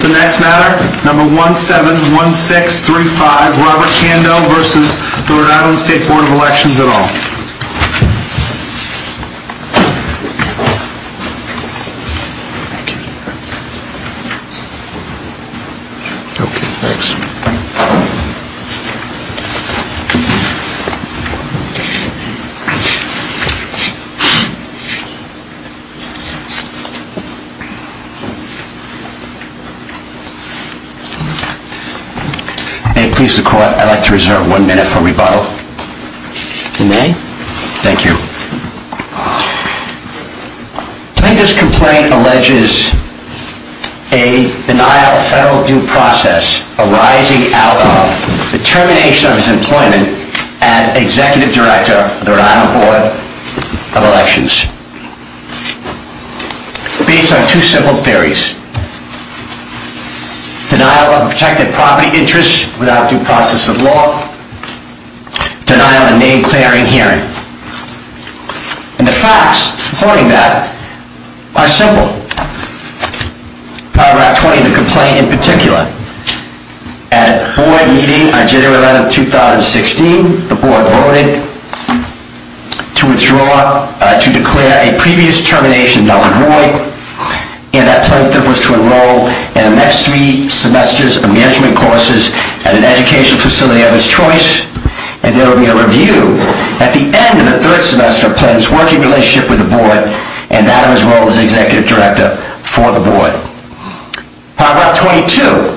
The next matter, number 171635, Robert Kando v. RI Board of Elections et al. May it please the Court, I'd like to reserve one minute for rebuttal. You may. Thank you. Plaintiff's complaint alleges a denial of federal due process arising out of the termination of his employment as Executive Director of the RI Board of Elections. Based on two simple theories. Denial of objective property interests without due process of law. Denial of name-clearing hearing. And the facts supporting that are simple. Route 20, the complaint in particular. At a board meeting on January 11, 2016, the board voted to withdraw, to declare a previous termination of Donald Roy. And that plaintiff was to enroll in the next three semesters of management courses at an educational facility of his choice. And there would be a review at the end of the third semester of plaintiff's working relationship with the board and that of his role as Executive Director for the board. How about 22?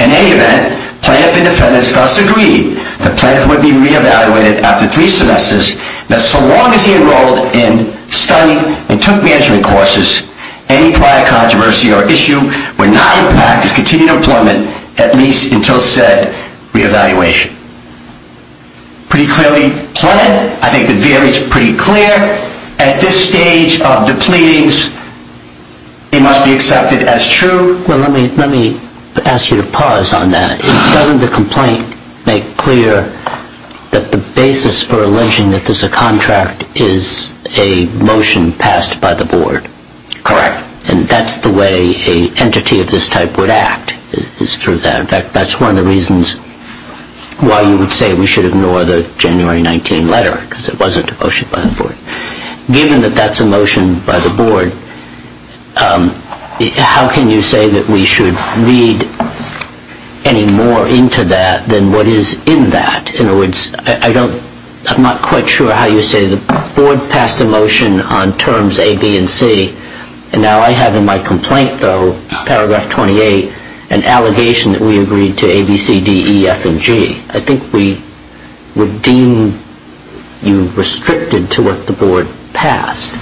In any event, plaintiff and defendants thus agreed that plaintiff would be re-evaluated after three semesters. That so long as he enrolled in, studied, and took management courses, any prior controversy or issue would not impact his continued employment, at least until said re-evaluation. Pretty clearly planned. I think the theory is pretty clear. At this stage of the pleadings, it must be accepted as true. Let me ask you to pause on that. Doesn't the complaint make clear that the basis for alleging that there's a contract is a motion passed by the board? Correct. And that's the way an entity of this type would act, is through that. In fact, that's one of the reasons why you would say we should ignore the January 19 letter, because it wasn't a motion by the board. How can you say that we should read any more into that than what is in that? In other words, I'm not quite sure how you say the board passed a motion on terms A, B, and C. And now I have in my complaint, though, paragraph 28, an allegation that we agreed to A, B, C, D, E, F, and G. I think we would deem you restricted to what the board passed.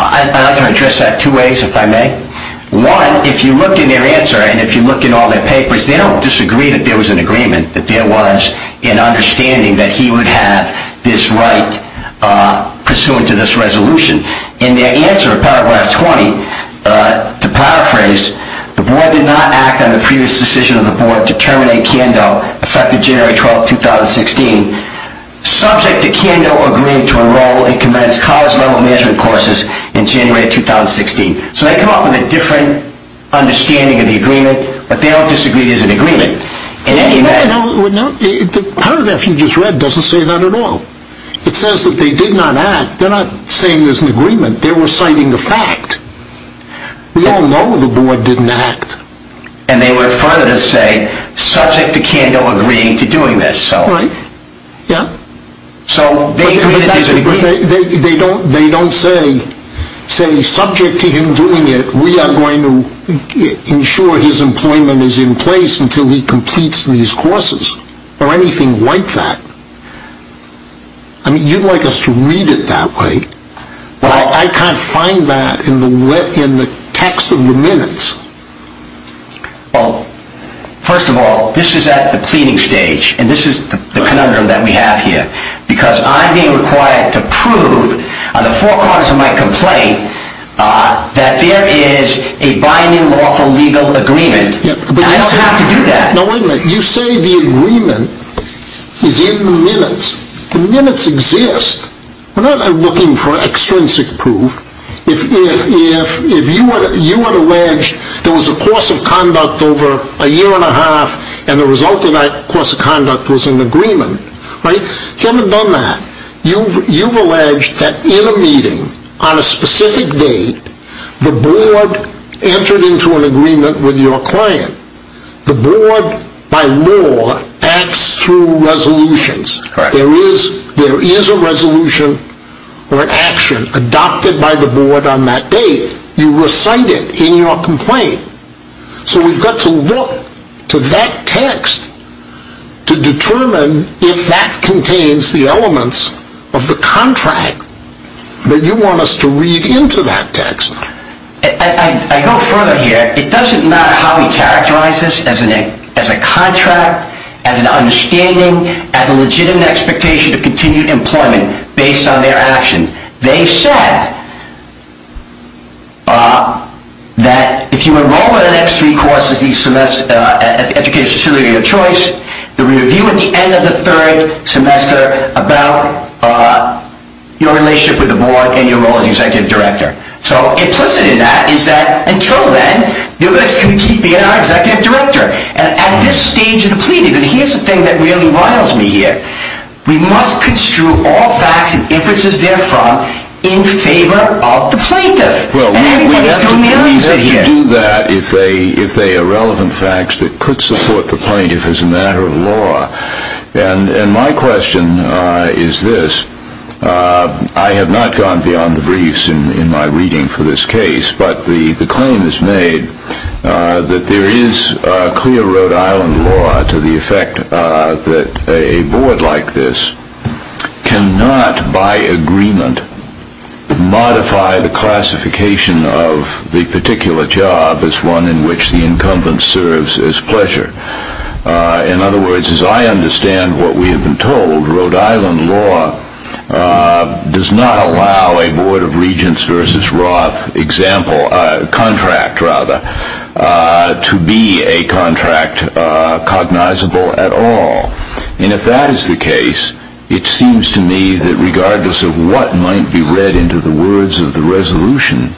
I'd like to address that two ways, if I may. One, if you look in their answer, and if you look in all their papers, they don't disagree that there was an agreement, that there was an understanding that he would have this right pursuant to this resolution. In their answer, paragraph 20, to paraphrase, the board did not act on the previous decision of the board to terminate Kando, effective January 12, 2016, subject to Kando agreeing to enroll and commence college-level management courses in January 2016. So they come up with a different understanding of the agreement, but they don't disagree there's an agreement. In any event, the paragraph you just read doesn't say that at all. It says that they did not act. They're not saying there's an agreement. They're reciting the fact. We all know the board didn't act. And they went further to say, subject to Kando agreeing to doing this. Right. Yeah. So they agree that there's an agreement. But they don't say, subject to him doing it, we are going to ensure his employment is in place until he completes these courses or anything like that. I mean, you'd like us to read it that way. Well, I can't find that in the text of the minutes. Well, first of all, this is at the pleading stage. And this is the conundrum that we have here. Because I'm being required to prove on the four corners of my complaint that there is a binding lawful legal agreement. And I don't have to do that. Now, wait a minute. You say the agreement is in the minutes. The minutes exist. We're not looking for extrinsic proof. If you had alleged there was a course of conduct over a year and a half, and the result of that course of conduct was an agreement, right, you haven't done that. You've alleged that in a meeting, on a specific date, the board entered into an agreement with your client. The board, by law, acts through resolutions. There is a resolution or an action adopted by the board on that date. You recite it in your complaint. So we've got to look to that text to determine if that contains the elements of the contract that you want us to read into that text. I go further here. It doesn't matter how we characterize this as a contract, as an understanding, as a legitimate expectation of continued employment based on their action. They said that if you enroll in the next three courses at the educational facility of your choice, there will be a review at the end of the third semester about your relationship with the board and your role as executive director. So implicit in that is that, until then, you're just going to keep being our executive director. And at this stage of the plea, here's the thing that really riles me here. We must construe all facts and inferences therefrom in favor of the plaintiff. Well, we have to do that if they are relevant facts that could support the plaintiff as a matter of law. And my question is this. I have not gone beyond the briefs in my reading for this case, but the claim is made that there is clear Rhode Island law to the effect that a board like this cannot, by agreement, modify the classification of the particular job as one in which the incumbent serves as pleasure. In other words, as I understand what we have been told, Rhode Island law does not allow a Board of Regents versus Roth contract to be a contract cognizable at all. And if that is the case, it seems to me that regardless of what might be read into the words of the resolution,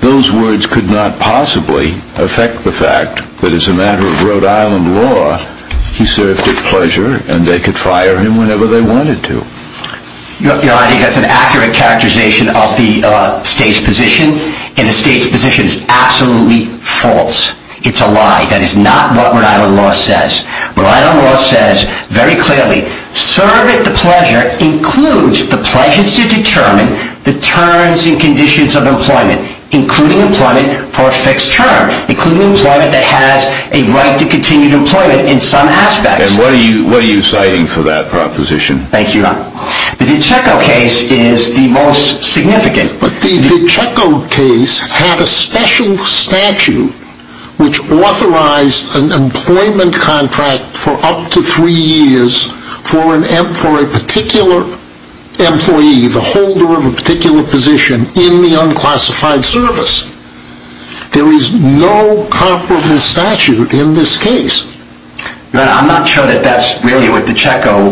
those words could not possibly affect the fact that as a matter of Rhode Island law, he served at pleasure and they could fire him whenever they wanted to. You know, I think that's an accurate characterization of the state's position. And the state's position is absolutely false. It's a lie. That is not what Rhode Island law says. Rhode Island law says very clearly, serve at the pleasure includes the pleasure to determine the terms and conditions of employment, including employment for a fixed term, including employment that has a right to continued employment in some aspects. And what are you citing for that proposition? Thank you, Ron. The DiCicco case is the most significant. But the DiCicco case had a special statute which authorized an employment contract for up to three years for a particular employee, the holder of a particular position in the unclassified service. There is no comparable statute in this case. I'm not sure that that's really what DiCicco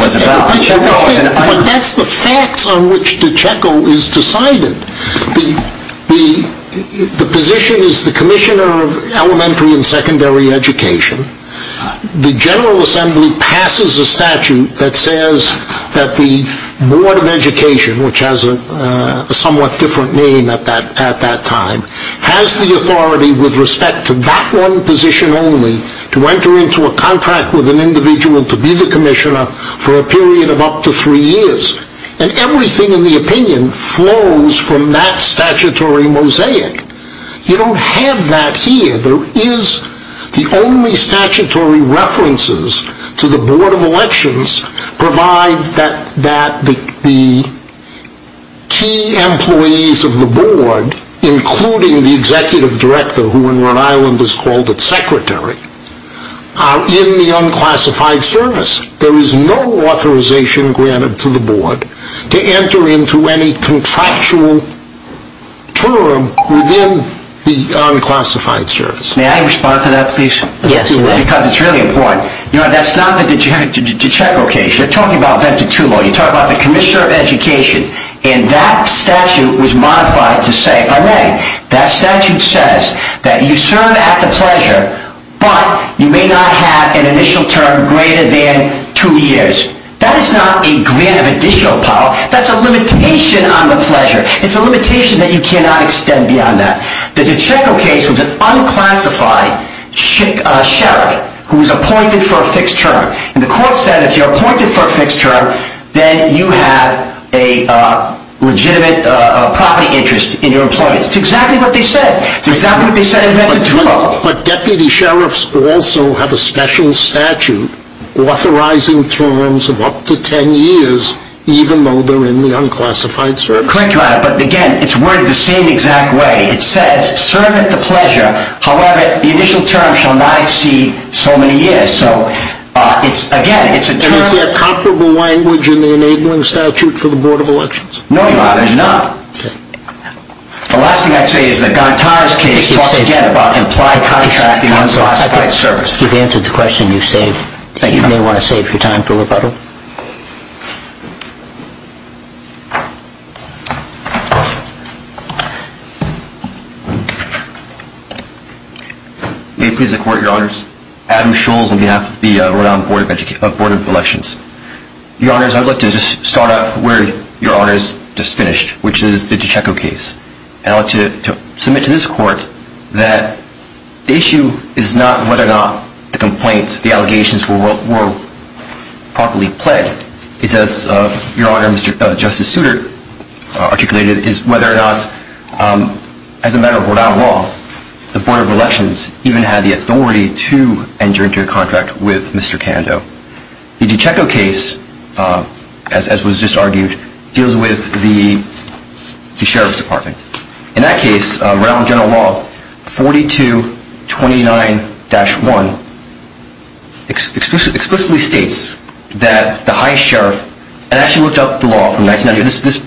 was about. But that's the facts on which DiCicco is decided. The position is the Commissioner of Elementary and Secondary Education. The General Assembly passes a statute that says that the Board of Education, which has a somewhat different name at that time, has the authority with respect to that one position only to enter into a contract with an individual to be the Commissioner for a period of up to three years. And everything in the opinion flows from that statutory mosaic. You don't have that here. There is the only statutory references to the Board of Elections, provide that the key employees of the Board, including the Executive Director, who in Rhode Island is called the Secretary, are in the unclassified service. There is no authorization granted to the Board to enter into any contractual term within the unclassified service. May I respond to that, please? Yes. Because it's really important. That's not the DiCicco case. You're talking about Vented 2 Law. You're talking about the Commissioner of Education. And that statute was modified to say, if I may, that statute says that you serve at the pleasure, but you may not have an initial term greater than two years. That is not a grant of additional power. That's a limitation on the pleasure. It's a limitation that you cannot extend beyond that. The DiCicco case was an unclassified sheriff who was appointed for a fixed term. And the court said, if you're appointed for a fixed term, then you have a legitimate property interest in your employment. It's exactly what they said. It's exactly what they said in Vented 2 Law. But deputy sheriffs also have a special statute authorizing terms of up to ten years, even though they're in the unclassified service. Correct. But again, it's worded the same exact way. It says, serve at the pleasure. However, the initial term shall not exceed so many years. And is there comparable language in the enabling statute for the Board of Elections? No, Your Honor, there's not. Okay. The last thing I'd say is that Gantara's case talks again about implied contracting unclassified services. You've answered the question. You may want to save your time for rebuttal. May it please the Court, Your Honors. Adam Scholes on behalf of the Rhode Island Board of Elections. Your Honors, I'd like to just start off where Your Honors just finished, which is the DiCicco case. I'd like to submit to this Court that the issue is not whether or not the complaints, the allegations were properly pled, it's as Your Honor, Justice Souter articulated, is whether or not, as a matter of Rhode Island law, the Board of Elections even had the authority to enter into a contract with Mr. Cando. The DiCicco case, as was just argued, deals with the Sheriff's Department. In that case, Rhode Island general law 4229-1 explicitly states that the High Sheriff, and I actually looked up the law from 1990,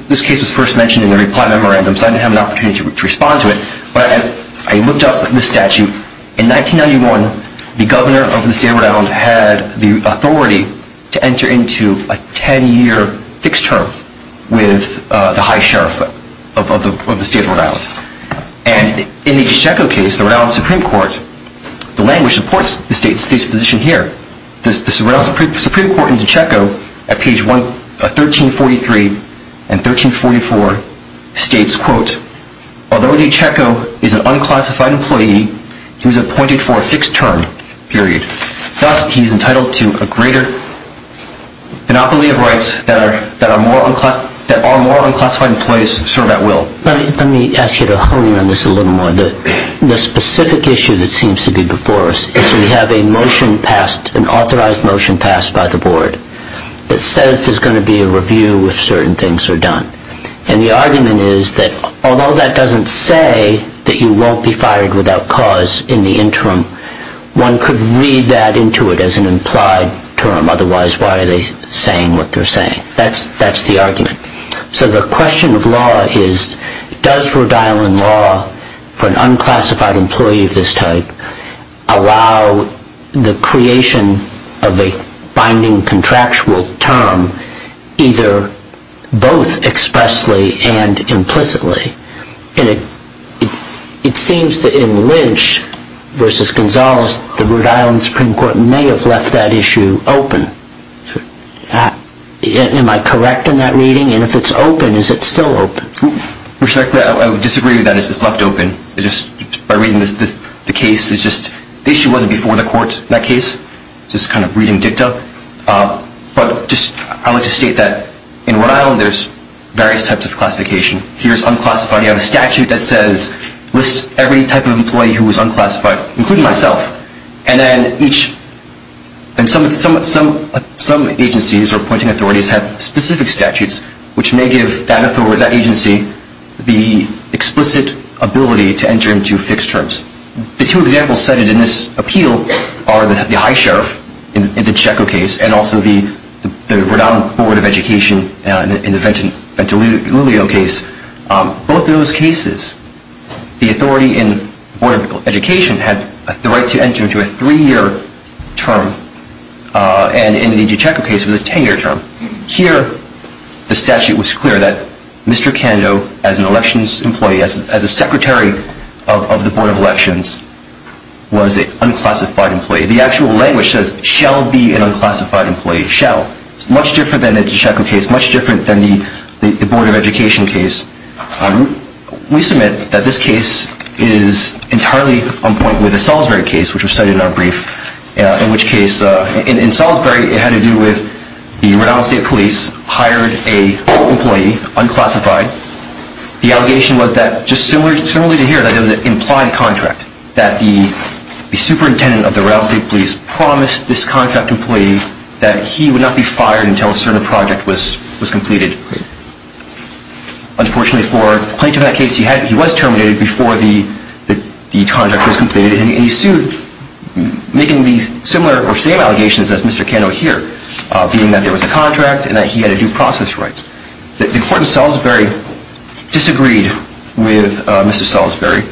this case was first mentioned in the reply memorandum, so I didn't have an opportunity to respond to it, but I looked up the statute. In 1991, the governor of the state of Rhode Island had the authority to enter into a 10-year fixed term with the High Sheriff of the state of Rhode Island. And in the DiCicco case, the Rhode Island Supreme Court, the language supports the state's position here. The Rhode Island Supreme Court in DiCicco at page 1343 and 1344 states, quote, although DiCicco is an unclassified employee, he was appointed for a fixed term, period. Thus, he is entitled to a greater monopoly of rights that our more unclassified employees serve at will. Let me ask you to hone in on this a little more. The specific issue that seems to be before us is we have a motion passed, an authorized motion passed by the board that says there's going to be a review if certain things are done. And the argument is that although that doesn't say that you won't be fired without cause in the interim, one could read that into it as an implied term. Otherwise, why are they saying what they're saying? That's the argument. So the question of law is, does Rhode Island law for an unclassified employee of this type allow the creation of a binding contractual term either both expressly and implicitly? And it seems that in Lynch versus Gonzales, the Rhode Island Supreme Court may have left that issue open. Am I correct in that reading? And if it's open, is it still open? Respectfully, I would disagree with that. It's just left open. By reading the case, the issue wasn't before the court, that case. It's just kind of reading dicta. But I would just state that in Rhode Island, there's various types of classification. Here's unclassified. You have a statute that lists every type of employee who is unclassified, including myself. And then some agencies or appointing authorities have specific statutes, which may give that agency the explicit ability to enter into fixed terms. The two examples cited in this appeal are the high sheriff in the Checco case and also the Rhode Island Board of Education in the Ventolilio case. Both of those cases, the authority in the Board of Education had the right to enter into a three-year term. And in the DeChecco case, it was a 10-year term. Here, the statute was clear that Mr. Cando, as an elections employee, as a secretary of the Board of Elections, was an unclassified employee. The actual language says, shall be an unclassified employee, shall. It's much different than the DeChecco case, much different than the Board of Education case. We submit that this case is entirely on point with the Salisbury case, which was cited in our brief, in which case in Salisbury, it had to do with the Rhode Island State Police hired an employee, unclassified. The allegation was that, just similarly to here, that it was an implied contract, that the superintendent of the Rhode Island State Police promised this contract employee that he would not be fired until a certain project was completed. Unfortunately for the plaintiff in that case, he was terminated before the contract was completed, and he sued, making these similar or same allegations as Mr. Cando here, being that there was a contract and that he had a due process right. The court in Salisbury disagreed with Mr. Salisbury.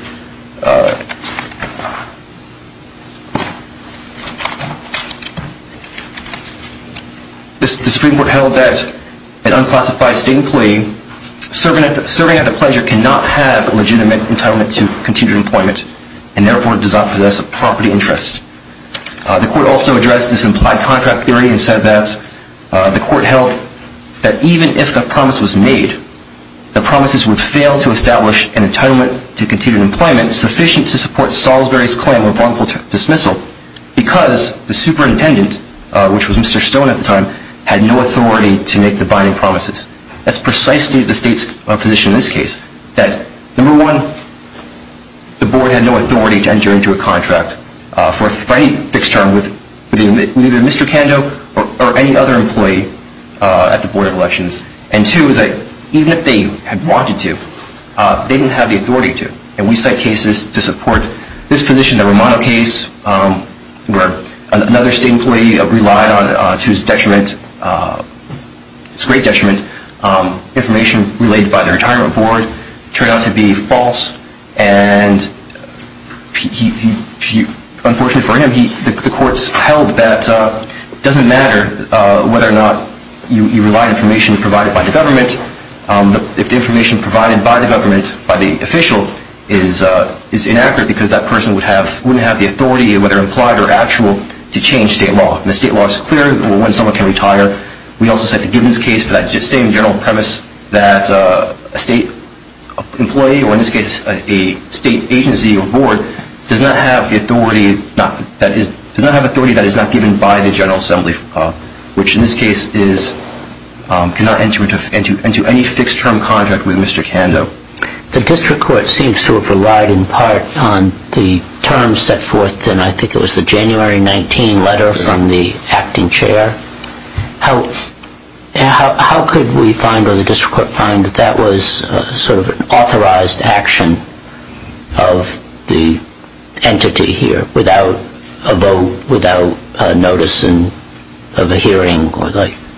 The Supreme Court held that an unclassified state employee serving at the pleasure cannot have a legitimate entitlement to continued employment, and therefore does not possess a property interest. The court also addressed this implied contract theory and said that the court held that even if the promise was made, the promises would fail to establish an entitlement to continued employment sufficient to support Salisbury's claim of wrongful dismissal because the superintendent, which was Mr. Stone at the time, had no authority to make the binding promises. That's precisely the state's position in this case, that, number one, the board had no authority to enter into a contract for any fixed term with either Mr. Cando or any other employee at the Board of Elections. And, two, even if they had wanted to, they didn't have the authority to. And we cite cases to support this position, the Romano case, where another state employee relied to his great detriment. Information relayed by the retirement board turned out to be false, and, unfortunately for him, the courts held that it doesn't matter whether or not you rely on information provided by the government. If the information provided by the government, by the official, is inaccurate because that person wouldn't have the authority, whether implied or actual, to change state law. And the state law is clear when someone can retire. We also cite the Gibbons case for that same general premise, that a state employee, or in this case a state agency or board, does not have the authority that is not given by the General Assembly, which in this case cannot enter into any fixed-term contract with Mr. Cando. The district court seems to have relied in part on the terms set forth in, I think it was, the January 19 letter from the acting chair. How could we find, or the district court find, that that was sort of an authorized action of the entity here without a vote, without notice of a hearing?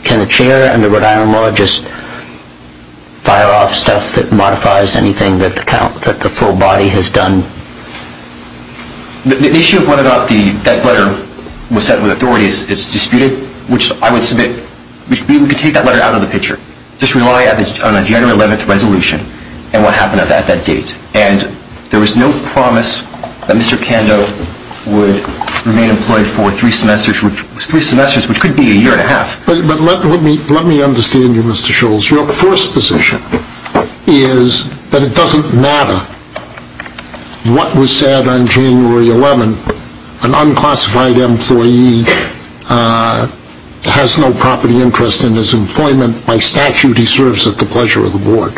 Can the chair and the Rhode Island law just fire off stuff that modifies anything that the full body has done? The issue of whether or not that letter was set with authority is disputed, which I would submit, we could take that letter out of the picture. Just rely on a January 11 resolution and what happened at that date. And there was no promise that Mr. Cando would remain employed for three semesters, which was three semesters, which could be a year and a half. But let me understand you, Mr. Scholz. Your first position is that it doesn't matter what was said on January 11. An unclassified employee has no property interest in his employment. By statute, he serves at the pleasure of the board.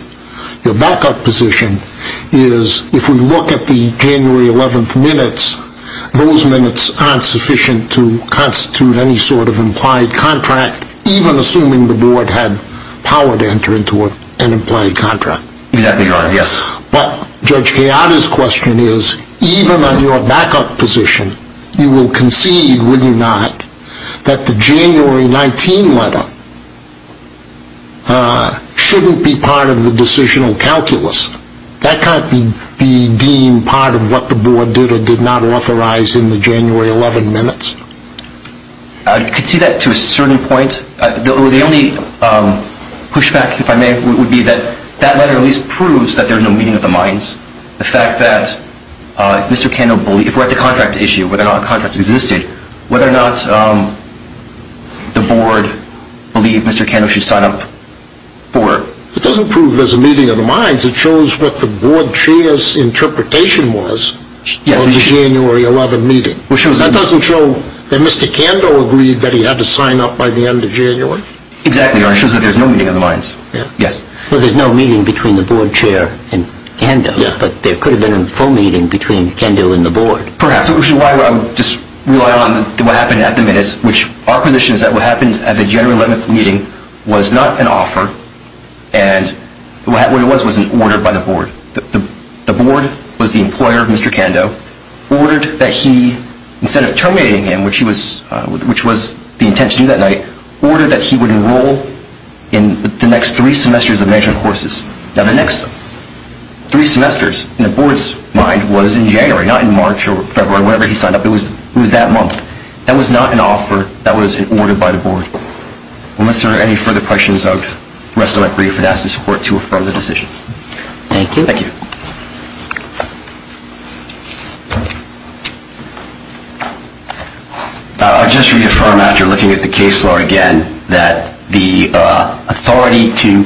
Your backup position is, if we look at the January 11 minutes, those minutes aren't sufficient to constitute any sort of implied contract, even assuming the board had power to enter into an implied contract. Exactly right, yes. But Judge Kayada's question is, even on your backup position, you will concede, will you not, that the January 19 letter shouldn't be part of the decisional calculus. That can't be deemed part of what the board did or did not authorize in the January 11 minutes. I could see that to a certain point. The only pushback, if I may, would be that that letter at least proves that there is no meeting of the minds. The fact that, if we're at the contract issue, whether or not the contract existed, whether or not the board believed Mr. Cando should sign up for it. It doesn't prove there's a meeting of the minds. It shows what the board chair's interpretation was of the January 11 meeting. That doesn't show that Mr. Cando agreed that he had to sign up by the end of January? Exactly, Your Honor, it shows that there's no meeting of the minds. Yes. Well, there's no meeting between the board chair and Cando, but there could have been a full meeting between Cando and the board. Perhaps, which is why I would just rely on what happened at the minutes, which our position is that what happened at the January 11 meeting was not an offer, and what it was was an order by the board. The board was the employer of Mr. Cando, ordered that he, instead of terminating him, which was the intention that night, ordered that he would enroll in the next three semesters of management courses. Now, the next three semesters, in the board's mind, was in January, not in March or February, whenever he signed up. It was that month. That was not an offer. That was an order by the board. Unless there are any further questions, I would rest on my brief and ask the support to affirm the decision. Thank you. Thank you. I'll just reaffirm, after looking at the case law again, that the authority to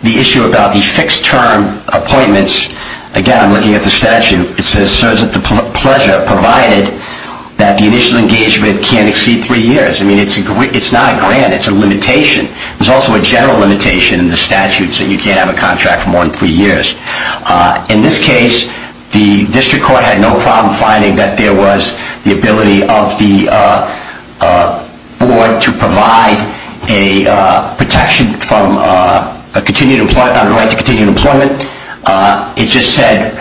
the issue about the fixed-term appointments, again, I'm looking at the statute. It says serves at the pleasure provided that the initial engagement can't exceed three years. It's a limitation. There's also a general limitation in the statute, saying you can't have a contract for more than three years. In this case, the district court had no problem finding that there was the ability of the board to provide a protection on the right to continued employment. It just said,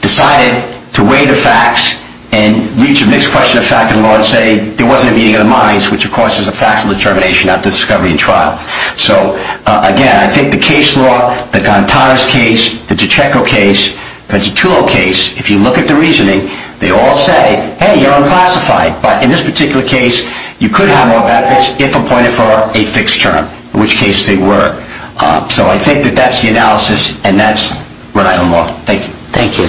decided to weigh the facts and reach a mixed question of fact and law and say there wasn't a meeting of the minds, which, of course, is a factual determination after discovery and trial. So, again, I think the case law, the Gantara's case, the DiCicco case, the Pezzatullo case, if you look at the reasoning, they all say, hey, you're unclassified. But in this particular case, you could have more benefits if appointed for a fixed term, in which case they were. So I think that that's the analysis, and that's what I want. Thank you. Thank you. Thank you.